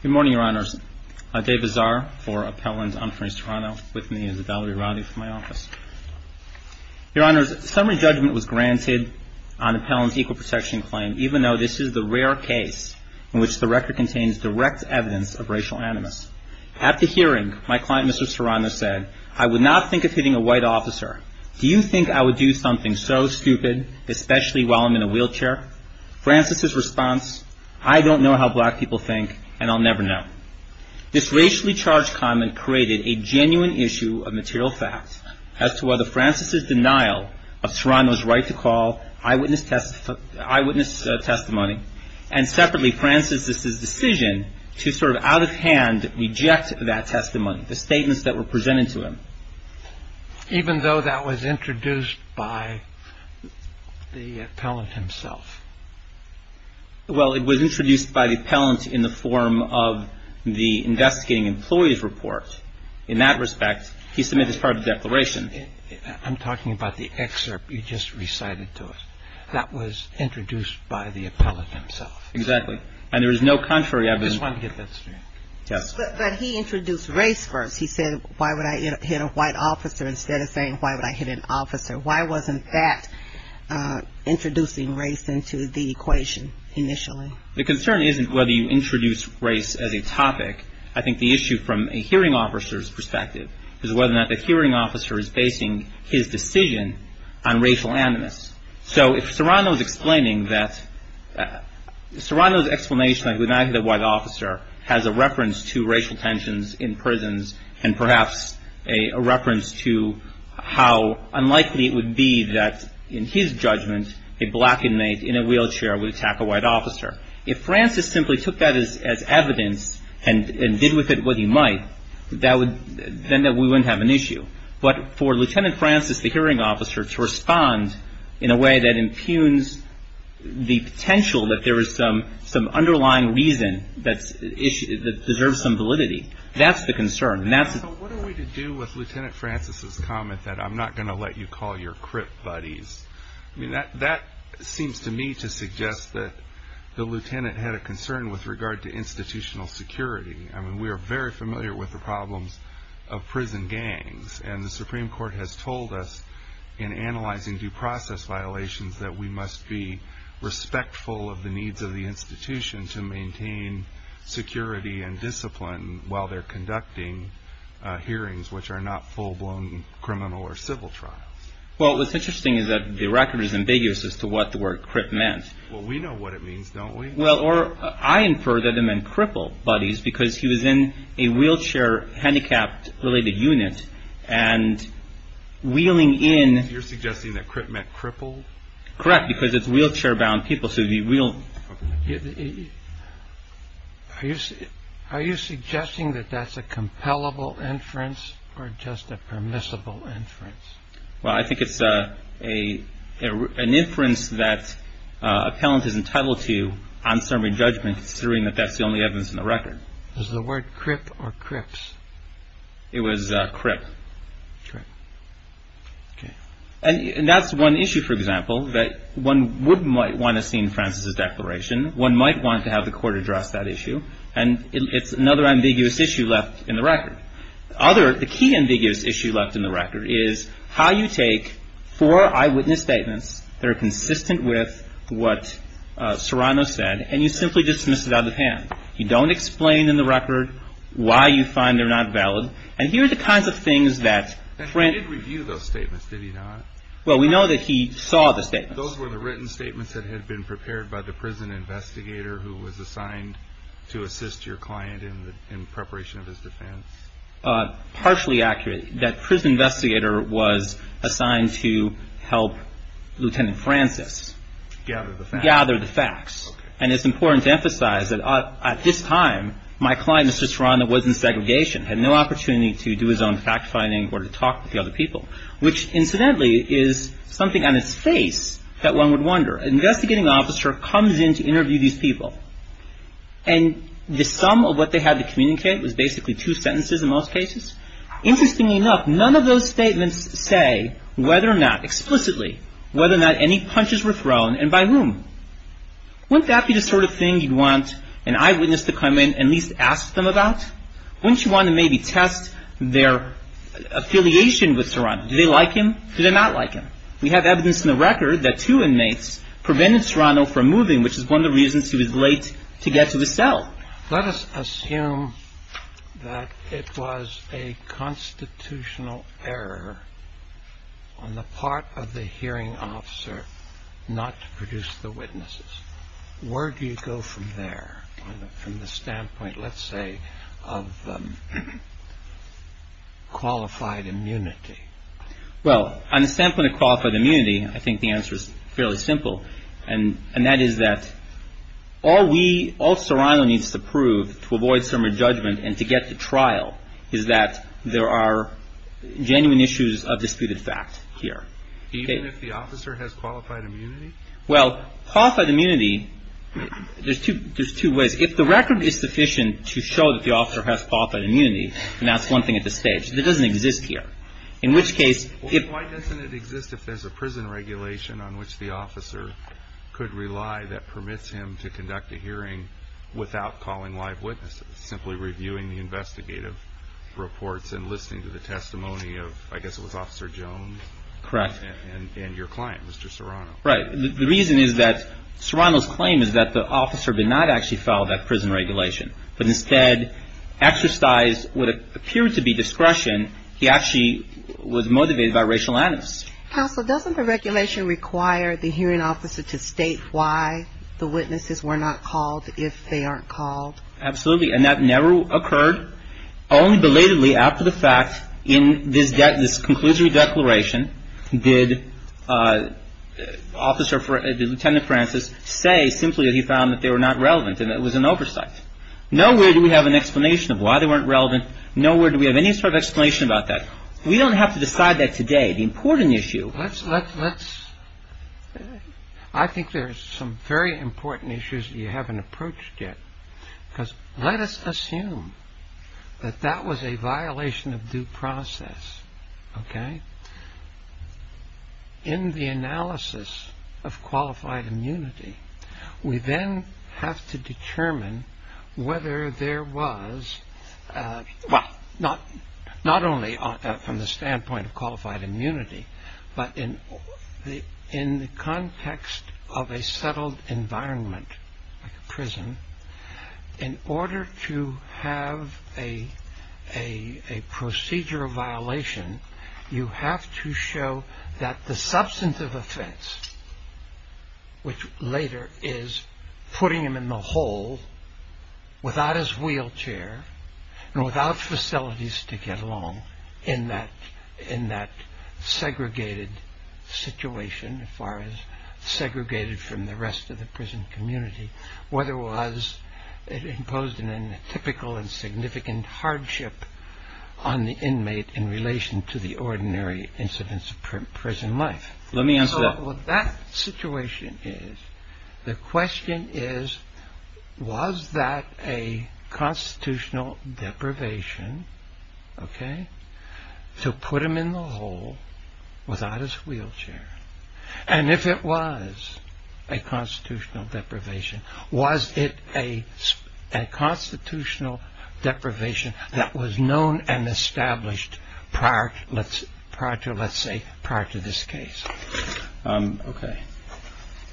Summary judgment was granted on Appellant's Equal Protection Claim, even though this is the rare case in which the record contains direct evidence of racial animus. At the hearing, my client Mr. Serrano said, I would not think of hitting a white officer. Do you think I would do something so stupid, especially while I'm in a wheelchair? Francis's response, I don't know how black people think, and I'll never know. This racially charged comment created a genuine issue of material fact as to whether Francis's denial of Serrano's right to call eyewitness testimony, and separately, Francis's decision to sort of out of hand reject that testimony, the statements that were presented to him. Even though that was introduced by the appellant himself? Well, it was introduced by the appellant in the form of the investigating employee's report. In that respect, he submitted as part of the declaration. I'm talking about the excerpt you just recited to us. That was introduced by the appellant himself. Exactly. And there is no contrary evidence. I just wanted to get that straight. Yes. But he introduced race first. He said, why would I hit a white officer instead of saying why would I hit an officer? Why wasn't that introducing race into the equation initially? The concern isn't whether you introduce race as a topic. I think the issue from a hearing officer's perspective is whether or not the hearing officer is basing his decision on racial animus. So if Serrano's explaining that, Serrano's explanation of why the officer has a reference to racial tensions in prisons and perhaps a reference to how unlikely it would be that, in his judgment, a black inmate in a wheelchair would attack a white officer. If Francis simply took that as evidence and did with it what he might, then we wouldn't have an issue. But for Lieutenant Francis, the hearing officer, to respond in a way that impugns the potential that there is some underlying reason that deserves some validity, that's the concern. So what are we to do with Lieutenant Francis's comment that I'm not going to let you call your crip buddies? That seems to me to suggest that the lieutenant had a concern with regard to institutional security. We are very familiar with the problems of prison gangs. And the needs of the institution to maintain security and discipline while they're conducting hearings which are not full-blown criminal or civil trials. Well, what's interesting is that the record is ambiguous as to what the word crip meant. Well, we know what it means, don't we? Well, or I infer that it meant cripple buddies because he was in a wheelchair handicapped related unit and wheeling in... You're suggesting that crip meant cripple? Correct, because it's wheelchair-bound people, so the wheel... Are you suggesting that that's a compellable inference or just a permissible inference? Well, I think it's an inference that appellant is entitled to on summary judgment, considering that that's the only evidence in the record. Is the word crip or crips? It was crip. And that's one issue, for example, that one might want to see in Francis' declaration. One might want to have the court address that issue. And it's another ambiguous issue left in the record. The key ambiguous issue left in the record is how you take four eyewitness statements that are consistent with what Serrano said, and you simply dismiss it out of the hand. You don't explain in the record why you find they're not valid. And here are the kinds of things that... And he did review those statements, did he not? Well, we know that he saw the statements. Those were the written statements that had been prepared by the prison investigator who was assigned to assist your client in preparation of his defense? Partially accurate. That prison investigator was assigned to help Lieutenant Francis... Gather the facts. Gather the facts. And it's important to emphasize that at this time, my client, Mr. Serrano, was in segregation, had no opportunity to do his own fact-finding or to talk with the other people, which, incidentally, is something on its face that one would wonder. An investigating officer comes in to interview these people, and the sum of what they had to communicate was basically two sentences in most cases? Interestingly enough, none of those statements say whether or not, explicitly, whether or not any punches were thrown and by whom. Wouldn't that be the sort of thing you'd want an eyewitness to come in and at least ask them about? Wouldn't you want to maybe test their affiliation with Serrano? Do they like him? Do they not like him? We have evidence in the record that two inmates prevented Serrano from moving, which is one of the reasons he was late to get to the cell. Let us assume that it was a constitutional error on the part of the hearing officer not to produce the witnesses. Where do you go from there from the standpoint, let's say, of qualified immunity? Well, on the standpoint of qualified immunity, I think the answer is fairly simple, and that is that all we, all Serrano needs to prove to avoid summary judgment and to get to trial is that there are genuine issues of disputed fact here. Even if the officer has qualified immunity? Well, qualified immunity, there's two ways. If the record is sufficient to show that the officer has qualified immunity, and that's one thing at this stage, it doesn't exist here. In which case, if... Why doesn't it exist if there's a prison regulation on which the officer could rely that permits him to conduct a hearing without calling live witnesses, simply reviewing the investigative reports and listening to the testimony of, I guess it was Officer Jones? Correct. And your client, Mr. Serrano. Right. The reason is that Serrano's claim is that the officer did not actually follow that prison regulation, but instead exercised what appeared to be discretion. He actually was motivated by racial animus. Counsel, doesn't the regulation require the hearing officer to state why the witnesses were not called if they aren't called? Absolutely. And that never occurred. Only belatedly after the fact, in this conclusory declaration, did Lieutenant Francis say simply that he found that they were not relevant and that it was an oversight. Nowhere do we have an explanation of why they weren't relevant. Nowhere do we have any sort of explanation about that. We don't have to decide that today. The important issue... Let's... I think there's some very important issues that you haven't approached yet. Because let us assume that that was a violation of due process. OK? In the analysis of qualified immunity, we then have to determine whether there was... Well, not only from the standpoint of qualified immunity, but in the context of a settled environment, like a prison, in order to have a procedure of violation, you have to show that the substantive offense, which later is putting him in the hole without his wheelchair and without facilities to get along in that segregated situation, as far as segregated from the rest of the prison community, whether it was imposed in a typical and significant hardship on the inmate in relation to the ordinary incidents of prison life. Let me answer that. That situation is... The question is, was that a constitutional deprivation, OK, to if it was a constitutional deprivation, was it a constitutional deprivation that was known and established prior to, let's say, prior to this case? OK.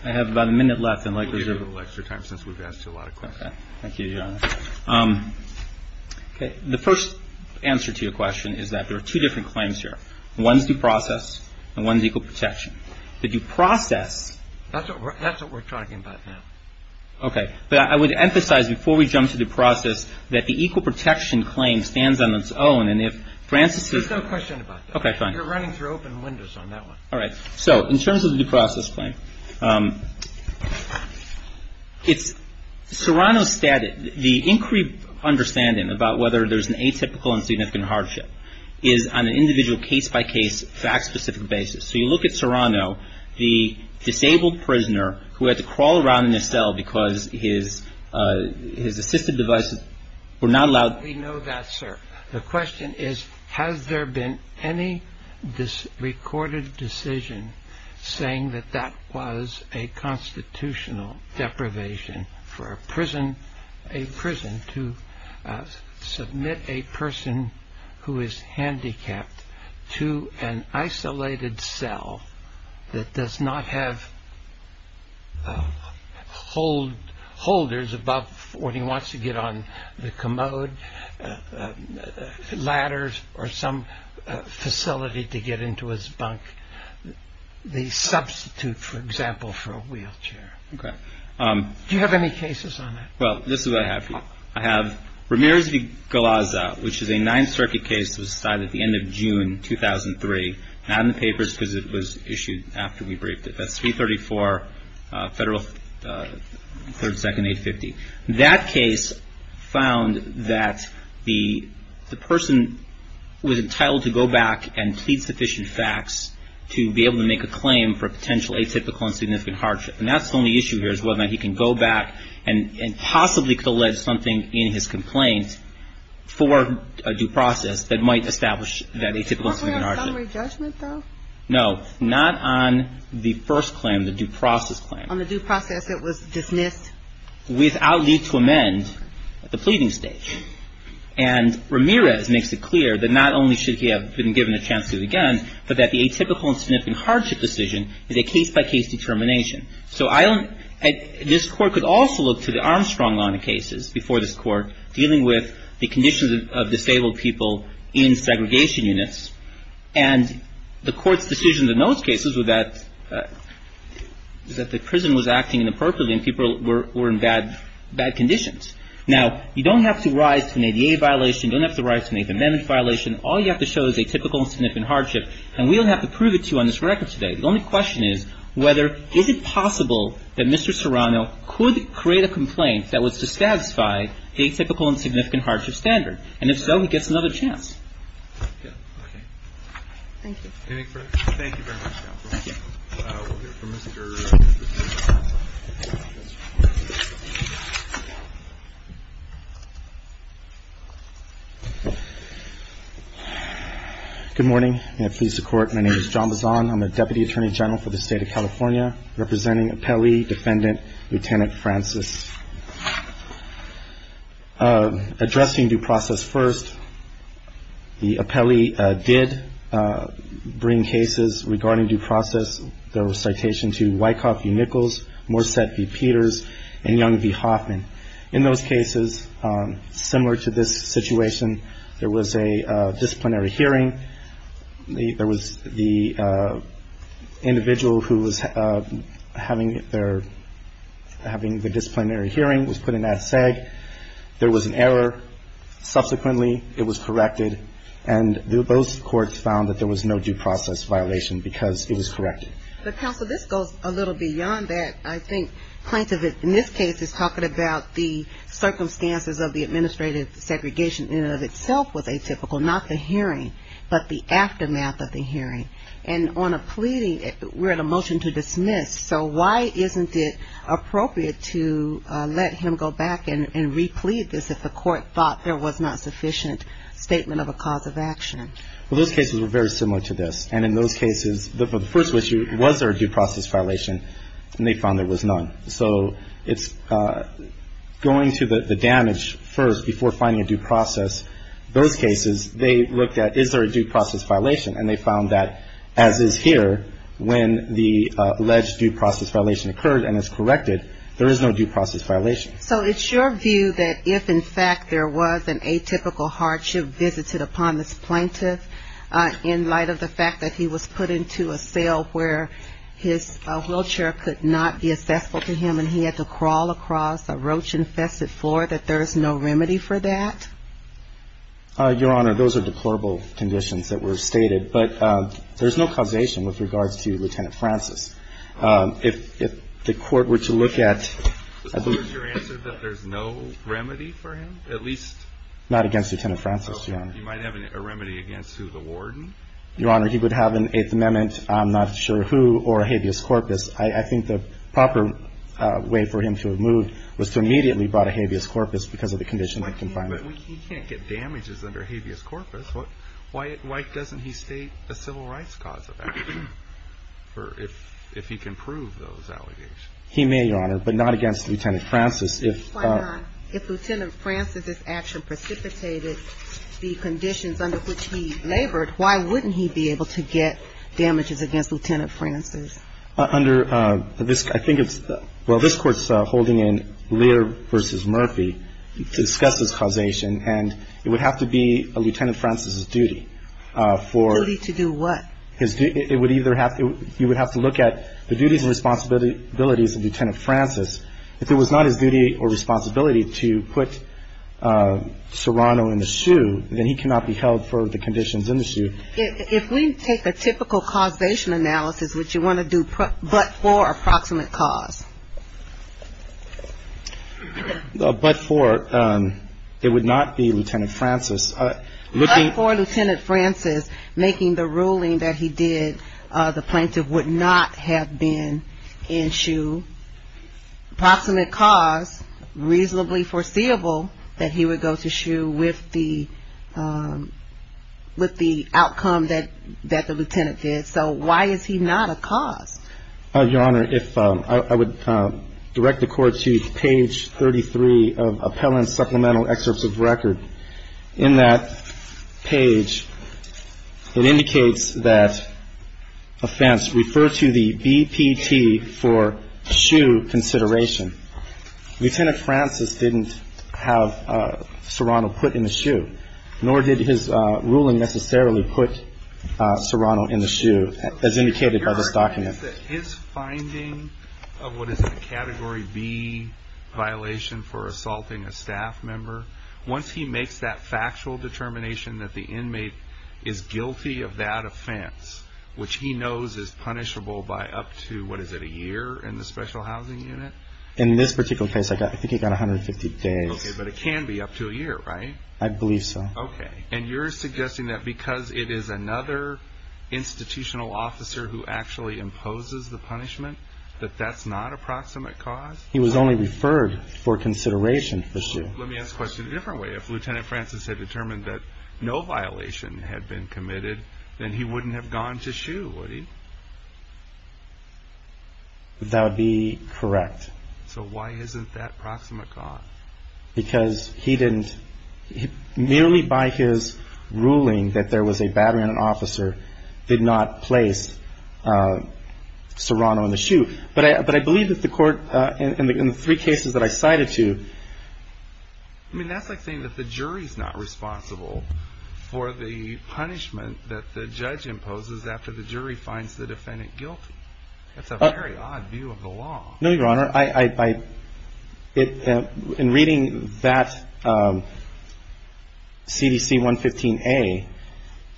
I have about a minute left and likely... We'll give you a little extra time since we've asked you a lot of questions. OK. Thank you, Your Honor. OK. The first answer to your question is that there are two different claims here. One is due process and one is equal protection. The due process... That's what we're talking about now. OK. But I would emphasize, before we jump to the process, that the equal protection claim stands on its own, and if Francis is... There's no question about that. OK. Fine. You're running through open windows on that one. All right. So, in terms of the due process claim, it's Serrano's statement, the inquiry about whether there's an atypical and significant hardship is on an individual case-by-case, fact-specific basis. So you look at Serrano, the disabled prisoner who had to crawl around in a cell because his assistive devices were not allowed... We know that, sir. The question is, has there been any recorded decision saying that that was a constitutional deprivation for a prison to submit a person who is handicapped to an isolated cell that does not have holders above what he wants to get on, the commode, ladders, or some facility to get into his bunk, the substitute, for example, for a wheelchair? OK. Do you have any cases on that? Well, this is what I have for you. I have Ramirez v. Galazza, which is a Ninth Circuit case that was decided at the end of June 2003, not in the papers because it was issued after we briefed it. That's 334 Federal 32nd 850. That case found that the person was entitled to go back and plead sufficient facts to be able to make a claim for a potential atypical and significant hardship. And that's the only issue here, is whether or not he can go back and possibly could allege something in his complaint for a due process that might establish that atypical and significant hardship. Was there a summary judgment, though? No. Not on the first claim, the due process claim. On the due process that was dismissed? Without need to amend at the pleading stage. And Ramirez makes it clear that not only should he have been given a chance to do it again, but that the atypical and significant hardship decision is a case-by-case determination. So this Court could also look to the Armstrong line of cases before this Court dealing with the conditions of And the Court's decision in those cases was that the prison was acting inappropriately and people were in bad conditions. Now, you don't have to rise to an ADA violation. You don't have to rise to an amendment violation. All you have to show is atypical and significant hardship. And we don't have to prove it to you on this record today. The only question is whether, is it possible that Mr. Serrano could create a complaint that was to satisfy atypical and significant hardship standard? And if so, he gets another chance. Okay. Thank you. Anything further? Thank you very much, counsel. We'll hear from Mr. Bazon. Good morning, and please support. My name is John Bazon. I'm the Deputy Attorney General for the State of California, representing Appellee Defendant Lieutenant Francis. Addressing due process first, the appellee did bring cases regarding due process. There was citation to Wyckoff v. Nichols, Morsett v. Peters, and Young v. Hoffman. In those cases, similar to this situation, there was a disciplinary hearing. There was the individual who was having their disciplinary hearing was put in that SEG. There was an error. Subsequently, it was corrected, and those courts found that there was no due process violation because it was corrected. But, counsel, this goes a little beyond that. I think plaintiff in this case is talking about the circumstances of the hearing, but the aftermath of the hearing. And on a pleading, we're at a motion to dismiss, so why isn't it appropriate to let him go back and replead this if the court thought there was not sufficient statement of a cause of action? Well, those cases were very similar to this, and in those cases, the first issue, was there a due process violation? And they found there was none. So it's going to the damage first before finding a due process. Those cases, they looked at is there a due process violation, and they found that, as is here, when the alleged due process violation occurred and is corrected, there is no due process violation. So it's your view that if, in fact, there was an atypical hardship visited upon this plaintiff in light of the fact that he was put into a cell where his wheelchair could not be accessible to him, and he had to crawl across a roach-infested floor, that there is no remedy for that? Your Honor, those are deplorable conditions that were stated. But there's no causation with regards to Lieutenant Francis. If the court were to look at the... I have an Eighth Amendment, I'm not sure who, or habeas corpus. I think the proper way for him to have moved was to immediately brought a habeas corpus because of the conditions of confinement. But he can't get damages under habeas corpus. Why doesn't he state a civil rights cause of action if he can prove those allegations? He may, Your Honor, but not against Lieutenant Francis. Why not? If Lieutenant Francis's action precipitated the conditions under which he labored, why wouldn't he be able to get damages against Lieutenant Francis? Under this, I think it's, well, this Court's holding in Lear v. Murphy to discuss this causation, and it would have to be a Lieutenant Francis's duty for... Duty to do what? It would either have to, you would have to look at the duties and responsibilities of Lieutenant Francis. If it was not his duty or responsibility to put Serrano in the SHU, then he cannot be held for the conditions in the SHU. If we take a typical causation analysis, would you want to do but for a proximate cause? But for, it would not be Lieutenant Francis. But for Lieutenant Francis, making the ruling that he did, the plaintiff would not have been in SHU. Proximate cause, reasonably foreseeable that he would go to SHU with the outcome that the Lieutenant did. So why is he not a cause? Your Honor, if I would direct the Court to page 33 of Appellant Supplemental Excerpts of Record. In that page, it indicates that offense refers to the BPT for SHU consideration. Lieutenant Francis didn't have Serrano put in the SHU, nor did his ruling necessarily put Serrano in the SHU as indicated by this document. Is that his finding of what is the Category B violation for assaulting a staff member, once he makes that factual determination that the inmate is guilty of that offense, which he knows is punishable by up to, what is it, a year in the Special Housing Unit? In this particular case, I think he got 150 days. Okay, but it can be up to a year, right? I believe so. Okay, and you're suggesting that because it is another institutional officer who actually imposes the punishment, that that's not a proximate cause? He was only referred for consideration for SHU. Let me ask the question a different way. If Lieutenant Francis had determined that no violation had been committed, then he wouldn't have gone to SHU, would he? That would be correct. So why isn't that proximate cause? Because he didn't, merely by his ruling that there was a battery on an officer, did not place Serrano in the SHU. But I believe that the court, in the three cases that I cited to, I mean, that's like saying that the jury's not responsible for the punishment that the judge imposes after the jury finds the defendant guilty. That's a very odd view of the law. No, Your Honor. In reading that CDC 115A,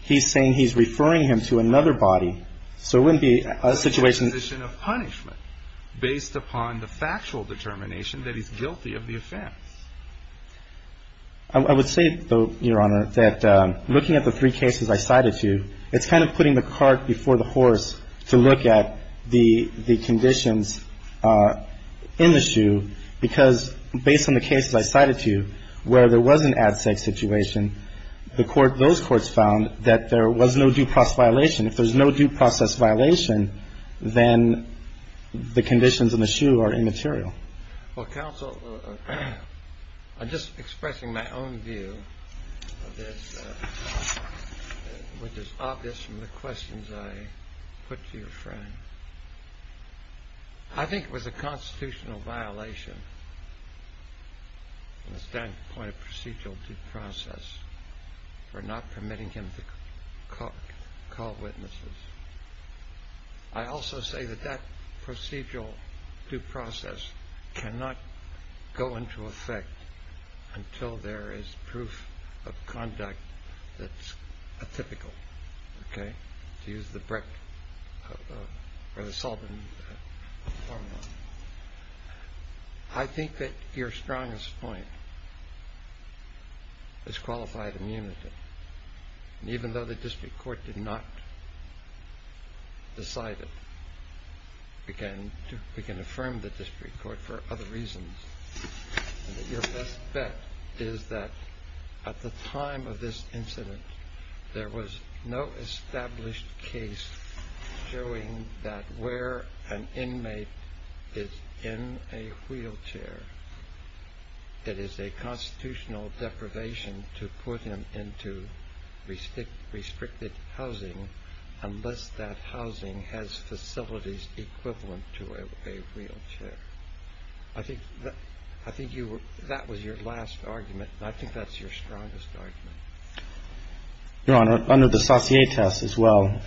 he's saying he's referring him to another body. So it wouldn't be a situation of punishment based upon the factual determination that he's guilty of the offense. I would say, though, Your Honor, that looking at the three cases I cited to, it's kind of putting the cart before the horse to look at the conditions in the SHU, because based on the cases I cited to you where there was an ad sec situation, those courts found that there was no due process violation. If there's no due process violation, then the conditions in the SHU are immaterial. Well, counsel, I'm just expressing my own view of this, which is obvious from the questions I put to your friend. I think it was a constitutional violation from the standpoint of procedural due process for not permitting him to call witnesses. I also say that that procedural due process cannot go into effect until there is proof of conduct that's atypical, to use the Breck or the Sullivan formula. I think that your strongest point is qualified immunity. Even though the district court did not decide it, we can affirm the district court for other reasons. Your best bet is that at the time of this incident, there was no established case showing that where an inmate is in a wheelchair, that is a constitutional deprivation to put him into restricted housing unless that housing has facilities equivalent to a wheelchair. I think that was your last argument, and I think that's your strongest argument. Your Honor, under the Saucier test as well,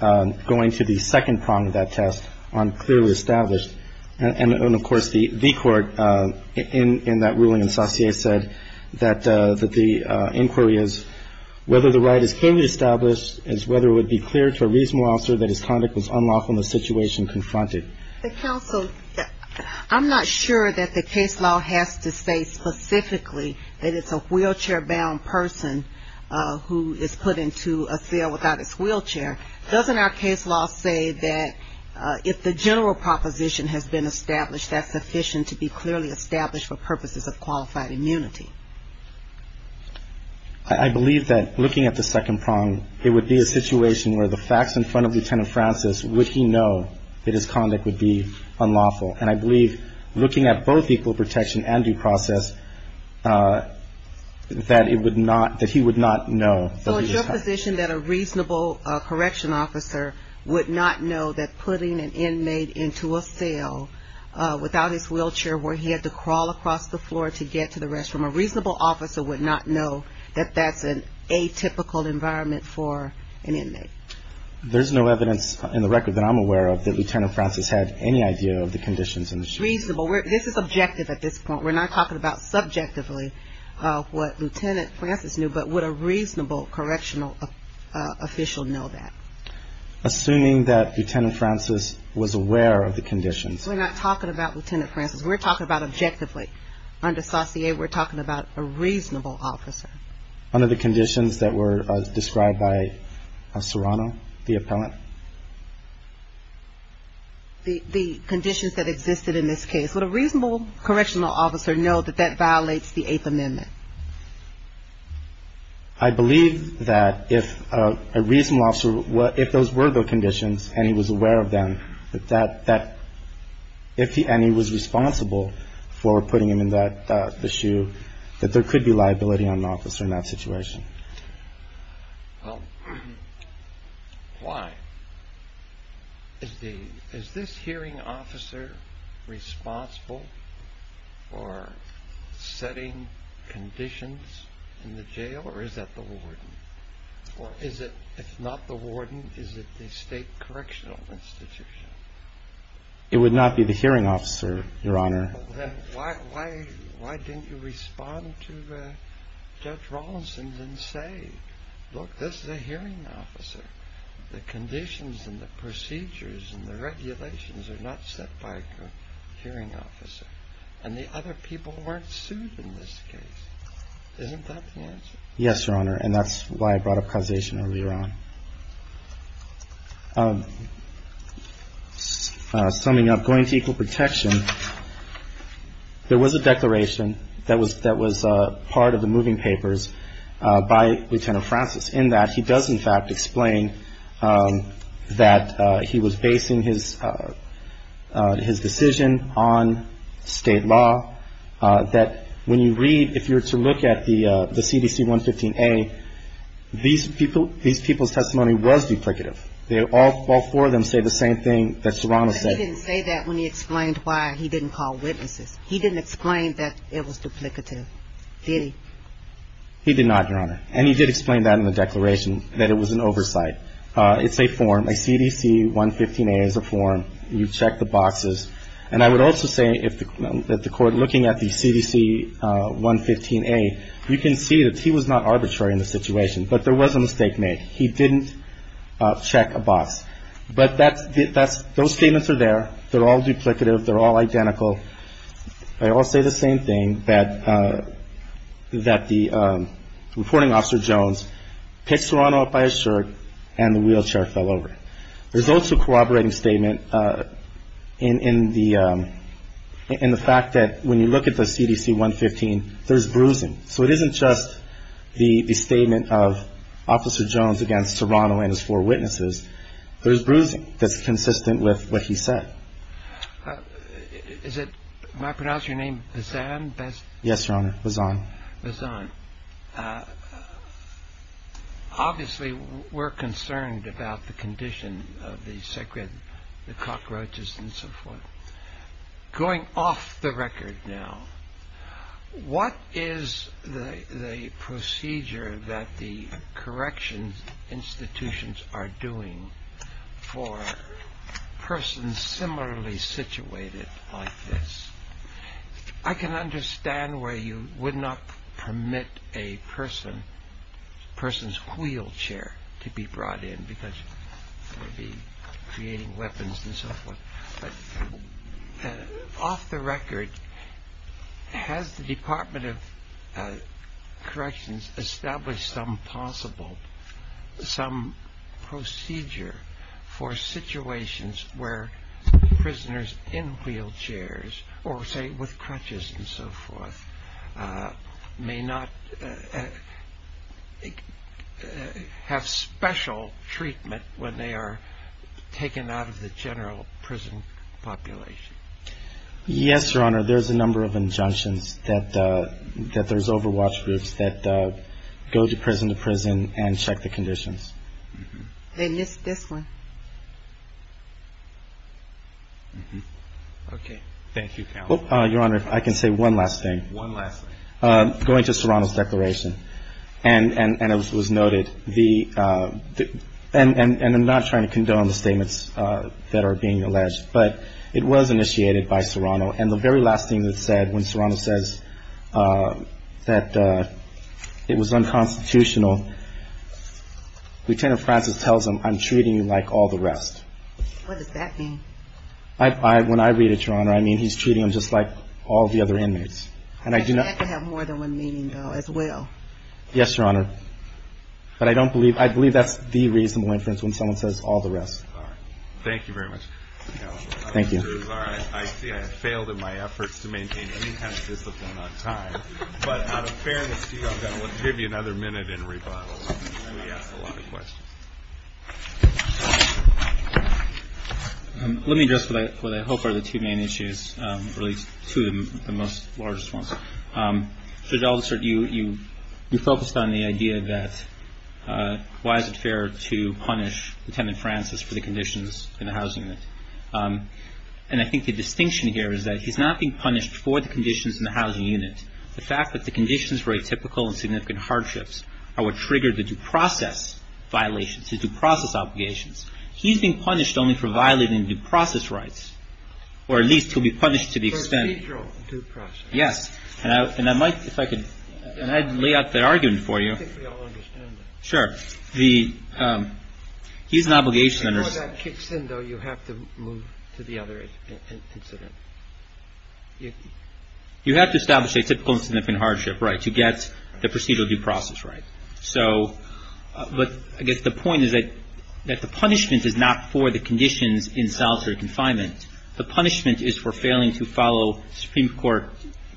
going to the second prong of that test on clearly established and, of course, the court in that ruling in Saucier said that the inquiry is whether the right is clearly established, as whether it would be clear to a reasonable officer that his conduct was unlawful in the situation confronted. Counsel, I'm not sure that the case law has to say specifically that it's a wheelchair-bound person who is put into a cell without his wheelchair. Doesn't our case law say that if the general proposition has been established, that's sufficient to be clearly established for purposes of qualified immunity? I believe that looking at the second prong, it would be a situation where the facts in front of Lieutenant Francis would he know that his conduct would be unlawful. And I believe looking at both equal protection and due process, that he would not know. So is your position that a reasonable correction officer would not know that putting an inmate into a cell without his wheelchair, where he had to crawl across the floor to get to the restroom, a reasonable officer would not know that that's an atypical environment for an inmate? There's no evidence in the record that I'm aware of that Lieutenant Francis had any idea of the conditions in the cell. Reasonable. This is objective at this point. We're not talking about subjectively what Lieutenant Francis knew, but would a reasonable correctional official know that? Assuming that Lieutenant Francis was aware of the conditions. We're not talking about Lieutenant Francis. We're talking about objectively. Under saucier, we're talking about a reasonable officer. Under the conditions that were described by Serrano, the appellant? The conditions that existed in this case. Would a reasonable correctional officer know that that violates the Eighth Amendment? I believe that if a reasonable officer, if those were the conditions and he was aware of them, that if he and he was responsible for putting him in that issue, that there could be liability on an officer in that situation. Well, why? Is this hearing officer responsible for setting conditions in the jail or is that the warden? Or is it if not the warden, is it the state correctional institution? It would not be the hearing officer, Your Honor. Why didn't you respond to Judge Rawlinson and say, look, this is a hearing officer. The conditions and the procedures and the regulations are not set by a hearing officer. And the other people weren't sued in this case. Yes, Your Honor. And that's why I brought up causation earlier on. Summing up, going to equal protection, there was a declaration that was part of the moving papers by Lieutenant Francis, in that he does in fact explain that he was basing his decision on state law, that when you read, if you were to look at the CDC 115A, these people's testimony was duplicative. All four of them say the same thing that Serrano said. He didn't say that when he explained why he didn't call witnesses. He didn't explain that it was duplicative, did he? He did not, Your Honor. And he did explain that in the declaration, that it was an oversight. It's a form. A CDC 115A is a form. You check the boxes. And I would also say that the Court, looking at the CDC 115A, you can see that he was not arbitrary in the situation, but there was a mistake made. He didn't check a box. But those statements are there. They're all duplicative. They're all identical. They all say the same thing, that the reporting officer, Jones, picked Serrano up by his shirt and the wheelchair fell over. There's also a corroborating statement in the fact that when you look at the CDC 115, there's bruising. So it isn't just the statement of Officer Jones against Serrano and his four witnesses. There's bruising that's consistent with what he said. Is it my pronouncing your name, Bazan? Yes, Your Honor, Bazan. Bazan. Obviously, we're concerned about the condition of the sacred cockroaches and so forth. Going off the record now, what is the procedure that the correction institutions are doing for persons similarly situated like this? I can understand why you would not permit a person's wheelchair to be brought in, because they would be creating weapons and so forth. But off the record, has the Department of Corrections established some possible, some procedure for situations where prisoners in wheelchairs or, say, with crutches and so forth, may not have special treatment when they are taken out of the general prison population? Yes, Your Honor. Your Honor, there's a number of injunctions that there's overwatch groups that go to prison to prison and check the conditions. And this one. Okay. Thank you, Counsel. Your Honor, if I can say one last thing. One last thing. Going to Serrano's declaration, and it was noted, and I'm not trying to condone the statements that are being alleged, but it was initiated by Serrano. And the very last thing that's said when Serrano says that it was unconstitutional, Lieutenant Francis tells him, I'm treating you like all the rest. What does that mean? When I read it, Your Honor, I mean he's treating them just like all the other inmates. But you have to have more than one meaning, though, as well. Yes, Your Honor. But I don't believe, I believe that's the reasonable inference when someone says all the rest. All right. Thank you very much, Counsel. Thank you. I see I have failed in my efforts to maintain any kind of discipline on time. But out of fairness to you, I'm going to give you another minute in rebuttal. We asked a lot of questions. Let me address what I hope are the two main issues, or at least two of the most large ones. Judge Aldersert, you focused on the idea that why is it fair to punish Lieutenant Francis for the conditions in the housing unit. And I think the distinction here is that he's not being punished for the conditions in the housing unit. The fact that the conditions were atypical and significant hardships are what triggered the due process violations, the due process obligations. He's being punished only for violating due process rights, or at least he'll be punished to the extent. For procedural due process. Yes. And I might, if I could, and I'd lay out the argument for you. I think we all understand that. Sure. The, he's an obligation. Before that kicks in, though, you have to move to the other incident. You have to establish atypical and significant hardship rights to get the procedural due process right. So, but I guess the point is that the punishment is not for the conditions in solitary confinement. The punishment is for failing to follow Supreme Court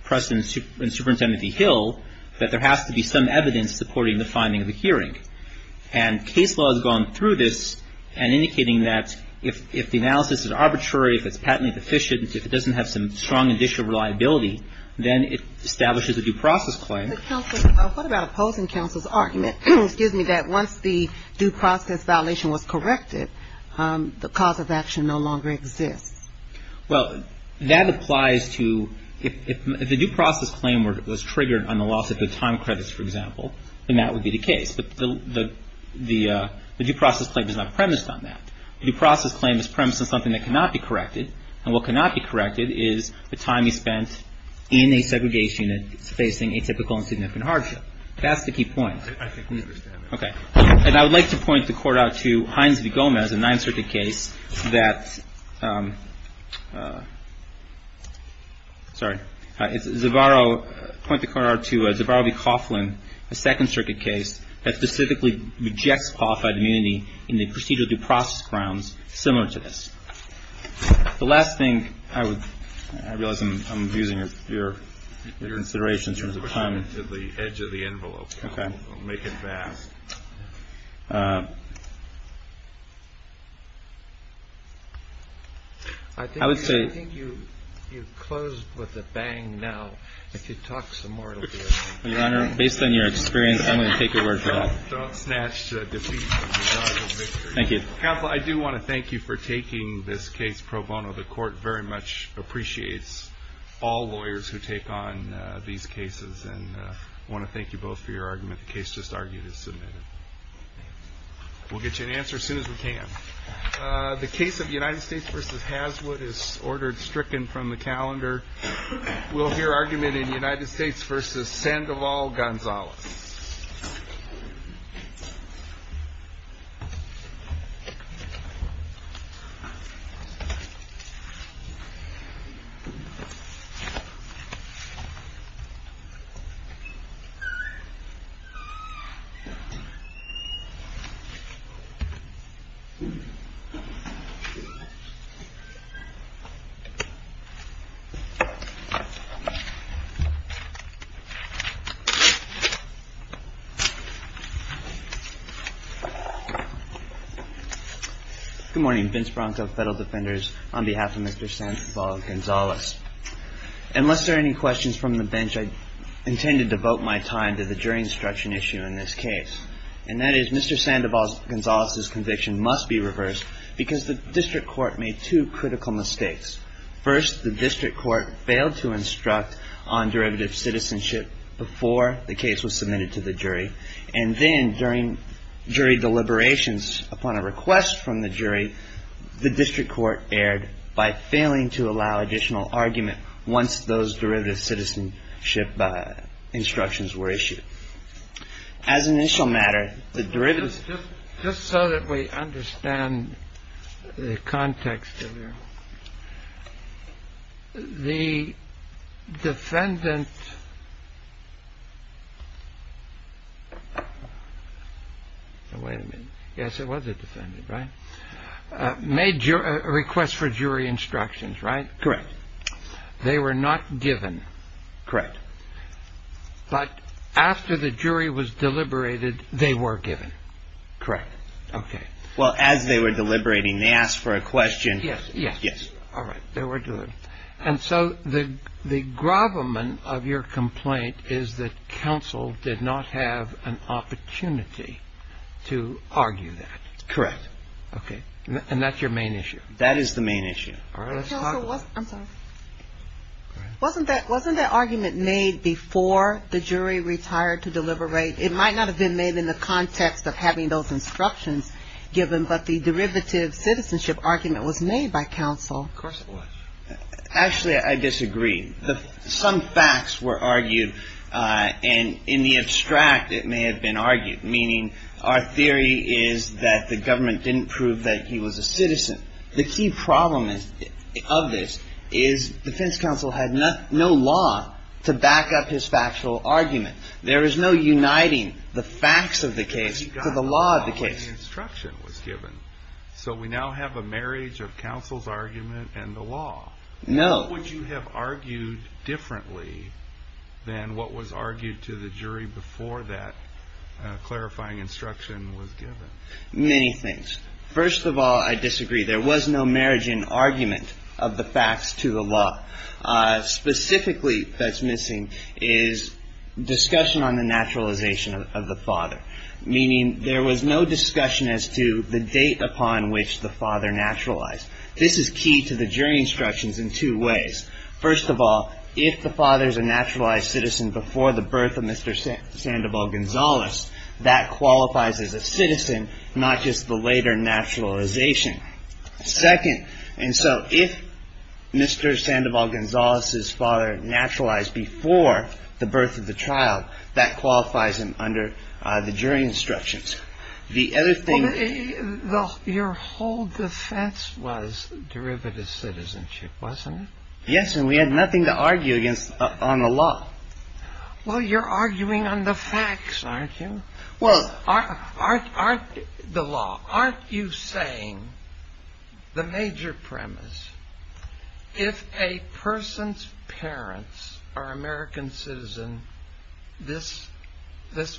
precedent in Superintendent E. Hill, that there has to be some evidence supporting the finding of the hearing. And case law has gone through this and indicating that if the analysis is arbitrary, if it's patently deficient, if it doesn't have some strong initial reliability, then it establishes a due process claim. But counsel, what about opposing counsel's argument, excuse me, that once the due process violation was corrected, the cause of action no longer exists? Well, that applies to, if the due process claim was triggered on the loss of the time credits, for example, then that would be the case. But the due process claim is not premised on that. The due process claim is premised on something that cannot be corrected. And what cannot be corrected is the time you spent in a segregation unit facing atypical and significant hardship. That's the key point. I think we understand that. Okay. And I would like to point the court out to Hines v. Gomez, a Ninth Circuit case that, sorry, Zavarro, point the court out to Zavarro v. Coughlin, a Second Circuit case, that specifically rejects qualified immunity in the procedural due process grounds similar to this. The last thing I would, I realize I'm abusing your considerations in terms of time. I don't want to get into the edge of the envelope. Okay. I'll make it fast. I would say. I think you've closed with a bang now. If you talk some more, it'll be okay. Your Honor, based on your experience, I'm going to take your word for that. Don't snatch the defeat. Thank you. Counsel, I do want to thank you for taking this case pro bono. The court very much appreciates all lawyers who take on these cases, and I want to thank you both for your argument. The case just argued is submitted. We'll get you an answer as soon as we can. The case of United States v. Haswood is ordered stricken from the calendar. We'll hear argument in United States versus Sandoval Gonzalez. Good morning. Vince Bronto, Federal Defenders, on behalf of Mr. Sandoval Gonzalez. Unless there are any questions from the bench, I intend to devote my time to the jury instruction issue in this case, and that is Mr. Sandoval Gonzalez's conviction must be reversed because the district court made two critical mistakes. First, the district court failed to instruct on derivative citizenship before the case was submitted to the jury, and then during jury deliberations upon a request from the jury, the district court erred by failing to allow additional argument once those derivative citizenship instructions were issued. As an initial matter, the derivatives. Just so that we understand the context. The defendant. Wait a minute. Yes, it was a defendant. Right. Major request for jury instructions. Right. Correct. They were not given. Correct. But after the jury was deliberated, they were given. Correct. OK. Well, as they were deliberating, they asked for a question. Yes. Yes. Yes. All right. They were doing. And so the the gravamen of your complaint is that counsel did not have an opportunity to argue that. Correct. OK. And that's your main issue. That is the main issue. I'm sorry. Wasn't that wasn't that argument made before the jury retired to deliberate? It might not have been made in the context of having those instructions given. But the derivative citizenship argument was made by counsel. Actually, I disagree. Some facts were argued. And in the abstract, it may have been argued, meaning our theory is that the government didn't prove that he was a citizen. The key problem is of this is defense. Counsel had no law to back up his factual argument. There is no uniting the facts of the case. So the law of the case instruction was given. So we now have a marriage of counsel's argument and the law. No. Would you have argued differently than what was argued to the jury before that clarifying instruction was given? Many things. First of all, I disagree. There was no marriage in argument of the facts to the law. Specifically, that's missing is discussion on the naturalization of the father, meaning there was no discussion as to the date upon which the father naturalized. This is key to the jury instructions in two ways. First of all, if the father is a naturalized citizen before the birth of Mr. Sandoval Gonzalez, that qualifies as a citizen, not just the later naturalization. Second. And so if Mr. Sandoval Gonzalez's father naturalized before the birth of the child, that qualifies him under the jury instructions. The other thing though, your whole defense was derivative citizenship, wasn't it? Yes. And we had nothing to argue against on the law. Well, you're arguing on the facts, aren't you? Aren't you saying the major premise, if a person's parents are American citizen, this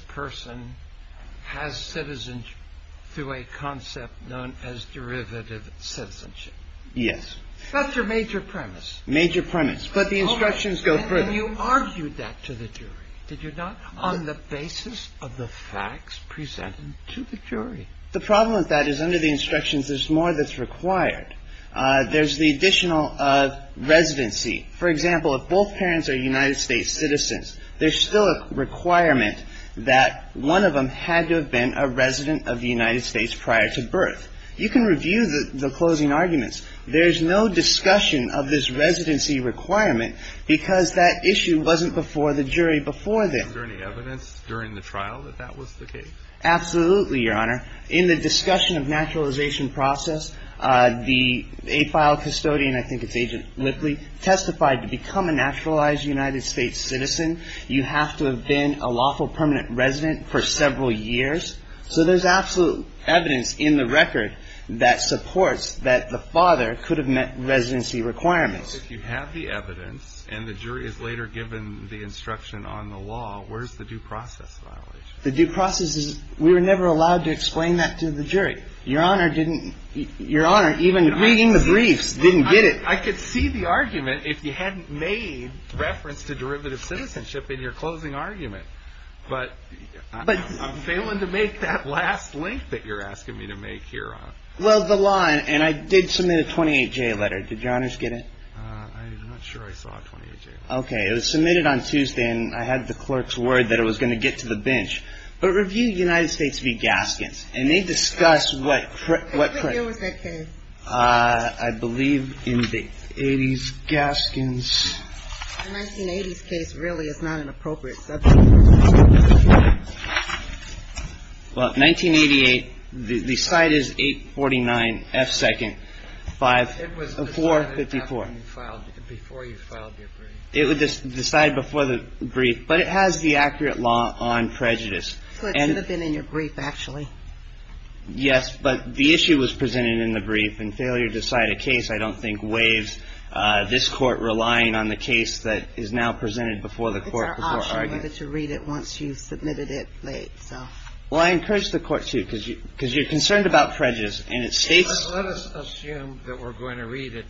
person has citizenship through a concept known as derivative citizenship. Yes. That's your major premise. Major premise. But the instructions go further. And you argued that to the jury, did you not, on the basis of the facts presented to the jury? The problem with that is under the instructions, there's more that's required. There's the additional residency. For example, if both parents are United States citizens, there's still a requirement that one of them had to have been a resident of the United States prior to birth. You can review the closing arguments. There's no discussion of this residency requirement because that issue wasn't before the jury before then. Was there any evidence during the trial that that was the case? Absolutely, Your Honor. In the discussion of naturalization process, the AFILE custodian, I think it's Agent Lippley, testified to become a naturalized United States citizen. You have to have been a lawful permanent resident for several years. So there's absolute evidence in the record that supports that the father could have met residency requirements. If you have the evidence and the jury is later given the instruction on the law, where's the due process violation? The due process is, we were never allowed to explain that to the jury. Your Honor didn't, Your Honor, even reading the briefs, didn't get it. I could see the argument if you hadn't made reference to derivative citizenship in your closing argument. But I'm failing to make that last link that you're asking me to make, Your Honor. Well, the law, and I did submit a 28-J letter. Did Your Honors get it? I'm not sure I saw a 28-J letter. Okay, it was submitted on Tuesday, and I had the clerk's word that it was going to get to the bench. But review United States v. Gaskins. And they discuss what... What year was that case? I believe in the 80s, Gaskins. The 1980s case really is not an appropriate subject. Well, 1988, the cite is 849 F. Second, 454. It was decided before you filed your brief. It was decided before the brief, but it has the accurate law on prejudice. So it should have been in your brief, actually. Yes, but the issue was presented in the brief, and failure to cite a case, I don't think, This Court relying on the case that is now presented before the Court before argument. It's our option to read it once you've submitted it late, so... Well, I encourage the Court to, because you're concerned about prejudice, and it states... Let us assume that we're going to read it,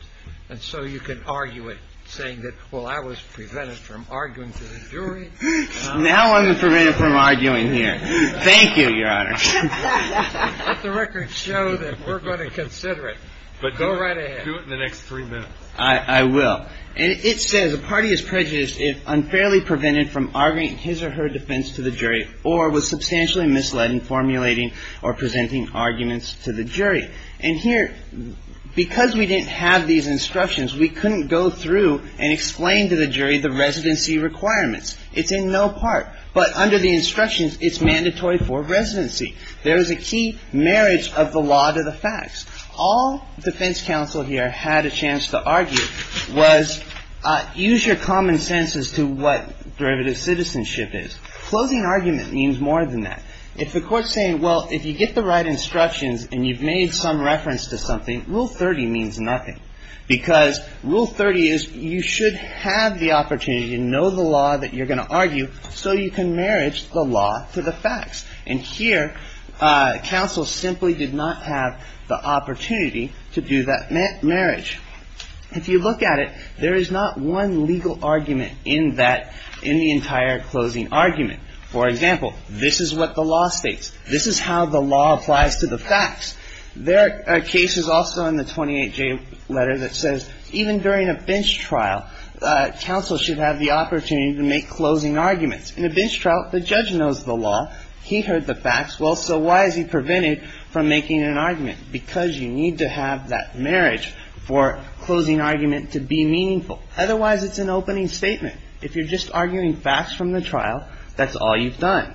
and so you can argue it, saying that, Well, I was prevented from arguing to the jury. Now I'm prevented from arguing here. Thank you, Your Honor. Let the record show that we're going to consider it. Go right ahead. I'll do it in the next three minutes. I will. And it says, A party is prejudiced if unfairly prevented from arguing his or her defense to the jury, or was substantially misled in formulating or presenting arguments to the jury. And here, because we didn't have these instructions, we couldn't go through and explain to the jury the residency requirements. It's in no part, but under the instructions, it's mandatory for residency. There is a key marriage of the law to the facts. All defense counsel here had a chance to argue was, Use your common sense as to what derivative citizenship is. Closing argument means more than that. If the Court is saying, Well, if you get the right instructions and you've made some reference to something, Rule 30 means nothing. Because Rule 30 is, You should have the opportunity to know the law that you're going to argue, so you can marriage the law to the facts. And here, counsel simply did not have the opportunity to do that marriage. If you look at it, there is not one legal argument in that, in the entire closing argument. For example, this is what the law states. This is how the law applies to the facts. There are cases also in the 28J letter that says, Even during a bench trial, counsel should have the opportunity to make closing arguments. In a bench trial, the judge knows the law. He heard the facts. Well, so why is he prevented from making an argument? Because you need to have that marriage for closing argument to be meaningful. Otherwise, it's an opening statement. If you're just arguing facts from the trial, that's all you've done.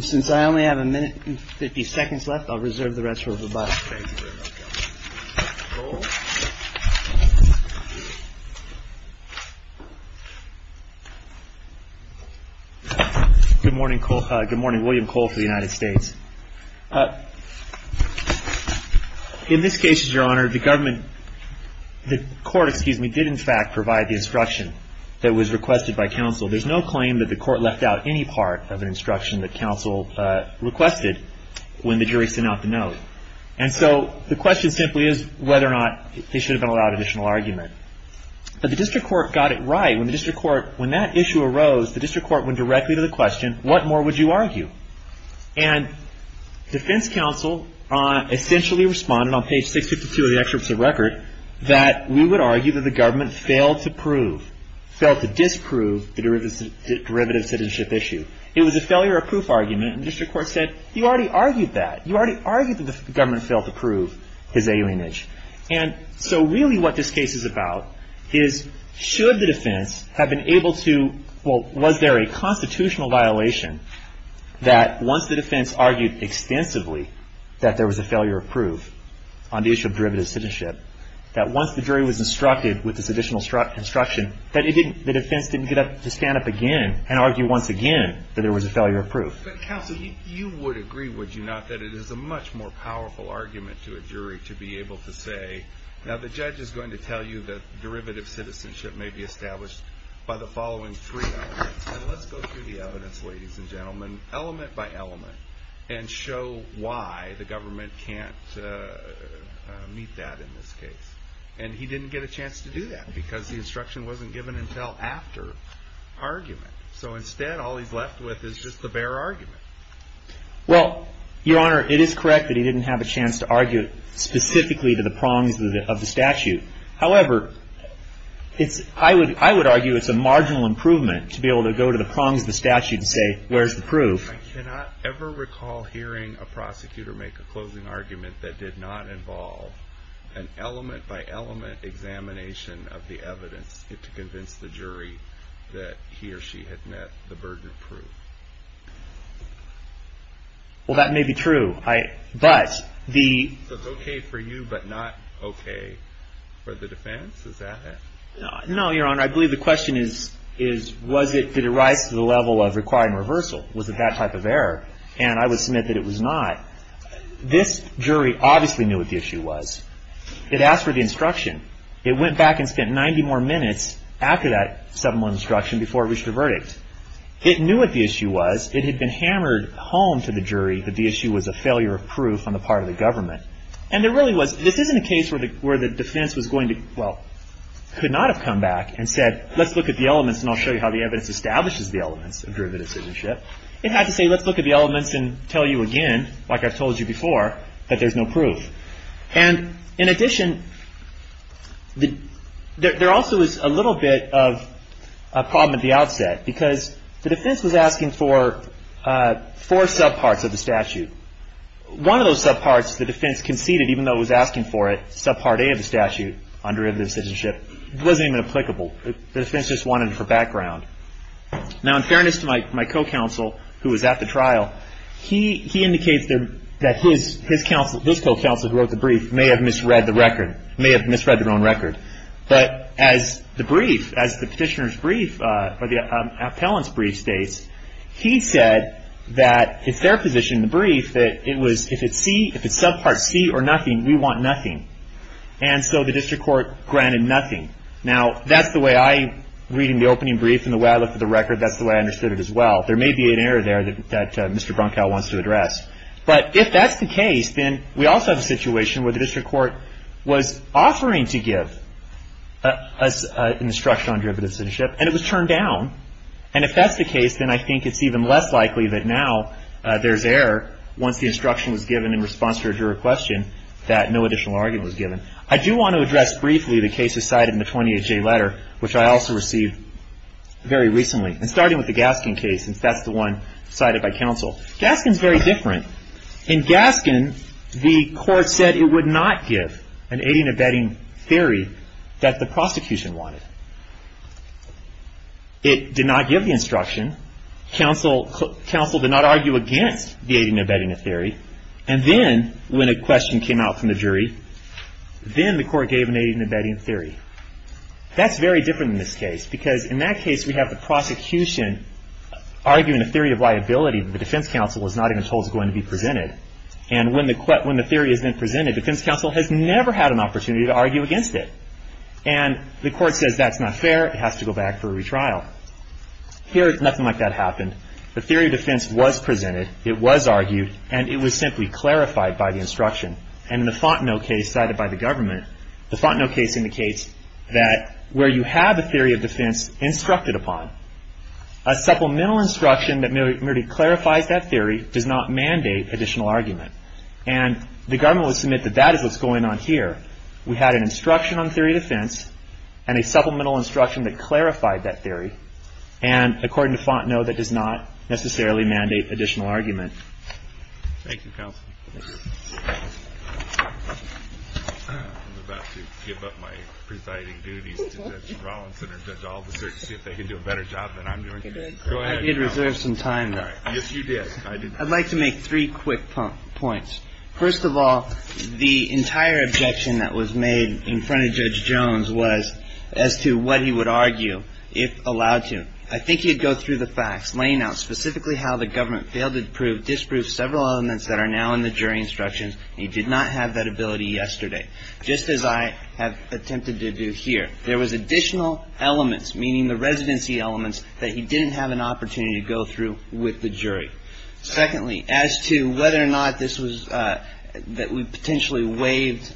Since I only have a minute and 50 seconds left, I'll reserve the rest for Roboto. Good morning, William Cole for the United States. In this case, Your Honor, the government, the court, excuse me, did in fact provide the instruction that was requested by counsel. There's no claim that the court left out any part of an instruction that counsel requested when the jury sent out the note. And so the question simply is whether or not they should have been allowed additional argument. But the district court got it right. When that issue arose, the district court went directly to the question, What more would you argue? And defense counsel essentially responded on page 652 of the excerpt of the record that we would argue that the government failed to prove, failed to disprove the derivative citizenship issue. It was a failure of proof argument, and district court said, You already argued that. You already argued that the government failed to prove his alienage. And so really what this case is about is should the defense have been able to, well, was there a constitutional violation that once the defense argued extensively that there was a failure of proof on the issue of derivative citizenship that once the jury was instructed with this additional instruction that the defense didn't get up to stand up again and argue once again that there was a failure of proof. But counsel, you would agree, would you not, that it is a much more powerful argument to a jury to be able to say, Now the judge is going to tell you that derivative citizenship may be established by the following three elements. And let's go through the evidence, ladies and gentlemen, element by element, and show why the government can't meet that in this case. And he didn't get a chance to do that because the instruction wasn't given until after argument. So instead all he's left with is just the bare argument. Well, Your Honor, it is correct that he didn't have a chance to argue specifically to the prongs of the statute. However, I would argue it's a marginal improvement to be able to go to the prongs of the statute and say, Where's the proof? I cannot ever recall hearing a prosecutor make a closing argument that did not involve an element by element examination of the evidence to convince the jury that he or she had met the burden of proof. Well, that may be true. So it's okay for you, but not okay for the defense? Is that it? No, Your Honor. I believe the question is, Did it rise to the level of requiring reversal? Was it that type of error? And I would submit that it was not. This jury obviously knew what the issue was. It asked for the instruction. It went back and spent 90 more minutes after that 7-1 instruction before it reached a verdict. It knew what the issue was. It had been hammered home to the jury that the issue was a failure of proof on the part of the government. And there really was This isn't a case where the defense was going to well, could not have come back and said, Let's look at the elements and I'll show you how the evidence establishes the elements of derivative citizenship. It had to say, Let's look at the elements and tell you again, like I've told you before, that there's no proof. And in addition, there also is a little bit of a problem at the outset because the defense was asking for four subparts of the statute. One of those subparts, the defense conceded, even though it was asking for it, subpart A of the statute on derivative citizenship, wasn't even applicable. The defense just wanted it for background. Now, in fairness to my co-counsel, who was at the trial, he indicates that his co-counsel, who wrote the brief, may have misread the record, may have misread their own record. But as the brief, as the petitioner's brief, or the appellant's brief states, he said that it's their position in the brief that if it's subpart C or nothing, we want nothing. And so the district court granted nothing. Now, that's the way I, reading the opening brief and the way I looked at the record, that's the way I understood it as well. There may be an error there that Mr. Brunkow wants to address. But if that's the case, then we also have a situation where the district court was offering to give an instruction on derivative citizenship, and it was turned down. And if that's the case, then I think it's even less likely that now there's error once the instruction was given in response to a juror question that no additional argument was given. I do want to address briefly the cases cited in the 28J letter, which I also received very recently, and starting with the Gaskin case, since that's the one cited by counsel. Gaskin's very different. In Gaskin, the court said it would not give an aiding and abetting theory that the prosecution wanted. It did not give the instruction. Counsel did not argue against the aiding and abetting theory. And then when a question came out from the jury, then the court gave an aiding and abetting theory. That's very different in this case, because in that case we have the prosecution arguing a theory of liability, but the defense counsel was not even told it was going to be presented. And when the theory has been presented, defense counsel has never had an opportunity to argue against it. And the court says that's not fair, it has to go back for a retrial. Here, nothing like that happened. The theory of defense was presented, it was argued, and it was simply clarified by the instruction. And in the Fontenot case cited by the government, the Fontenot case indicates that where you have a theory of defense instructed upon, a supplemental instruction that merely clarifies that theory does not mandate additional argument. And the government would submit that that is what's going on here. We had an instruction on theory of defense and a supplemental instruction that clarified that theory. And according to Fontenot, that does not necessarily mandate additional argument. Thank you, counsel. I'm about to give up my presiding duties to Judge Rawlinson or Judge Alderson to see if they can do a better job than I'm doing. Go ahead. I did reserve some time, though. Yes, you did. I'd like to make three quick points. First of all, the entire objection that was made in front of Judge Jones was as to what he would argue if allowed to. I think he'd go through the facts, laying out specifically how the government failed to disprove several elements that are now in the jury instructions. He did not have that ability yesterday, just as I have attempted to do here. There was additional elements, meaning the residency elements, that he didn't have an opportunity to go through with the jury. Secondly, as to whether or not this was that we potentially waived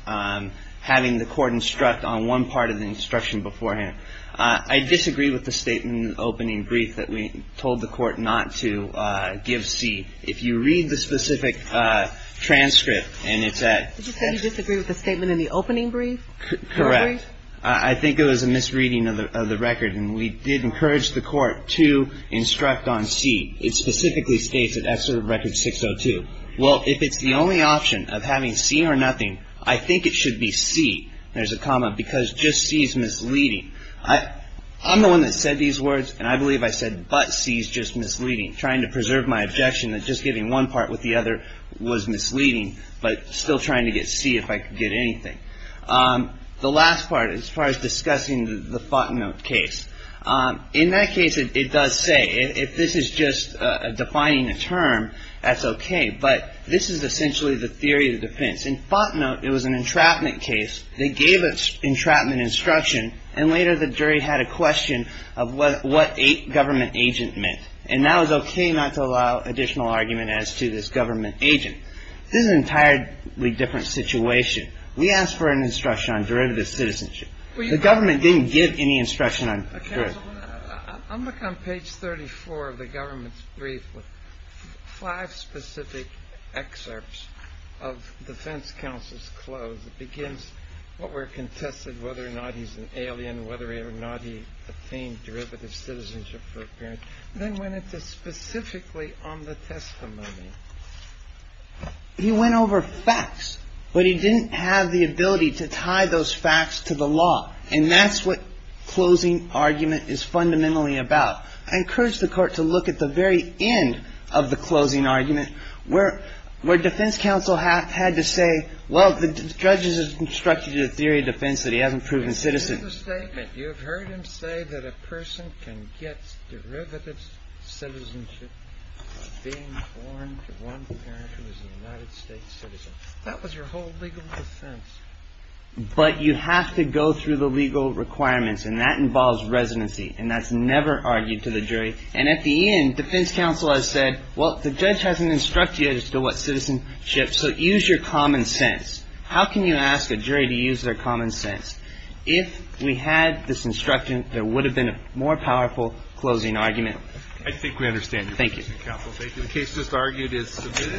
having the court instruct on one part of the instruction beforehand. I disagree with the statement in the opening brief that we told the court not to give C. If you read the specific transcript and it's at ‑‑ Did you say you disagree with the statement in the opening brief? Correct. I think it was a misreading of the record, and we did encourage the court to instruct on C. It specifically states that that's sort of record 602. Well, if it's the only option of having C or nothing, I think it should be C, there's a comma, because just C is misleading. I'm the one that said these words, and I believe I said, but C is just misleading, trying to preserve my objection that just giving one part with the other was misleading, but still trying to get C if I could get anything. The last part, as far as discussing the Fontenote case. In that case, it does say, if this is just defining a term, that's okay, but this is essentially the theory of defense. In Fontenote, it was an entrapment case. They gave us entrapment instruction, and later the jury had a question of what government agent meant, and that was okay not to allow additional argument as to this government agent. This is an entirely different situation. We asked for an instruction on derivative of citizenship. The government didn't give any instruction on derivative. I'll look on page 34 of the government's brief with five specific excerpts of defense counsel's close. It begins, what were contested, whether or not he's an alien, whether or not he obtained derivative citizenship for appearance, then went into specifically on the testimony. He went over facts, but he didn't have the ability to tie those facts to the law, and that's what closing argument is fundamentally about. I encourage the Court to look at the very end of the closing argument where defense counsel had to say, well, the judge has instructed you the theory of defense that he hasn't proven citizen. This is a statement. You have heard him say that a person can get derivative citizenship of being born to one parent who is a United States citizen. That was your whole legal defense. But you have to go through the legal requirements, and that involves residency, and that's never argued to the jury. And at the end, defense counsel has said, well, the judge hasn't instructed you as to what citizenship, so use your common sense. How can you ask a jury to use their common sense? If we had this instruction, there would have been a more powerful closing argument. I think we understand. Thank you. Counsel, thank you. The case just argued is submitted.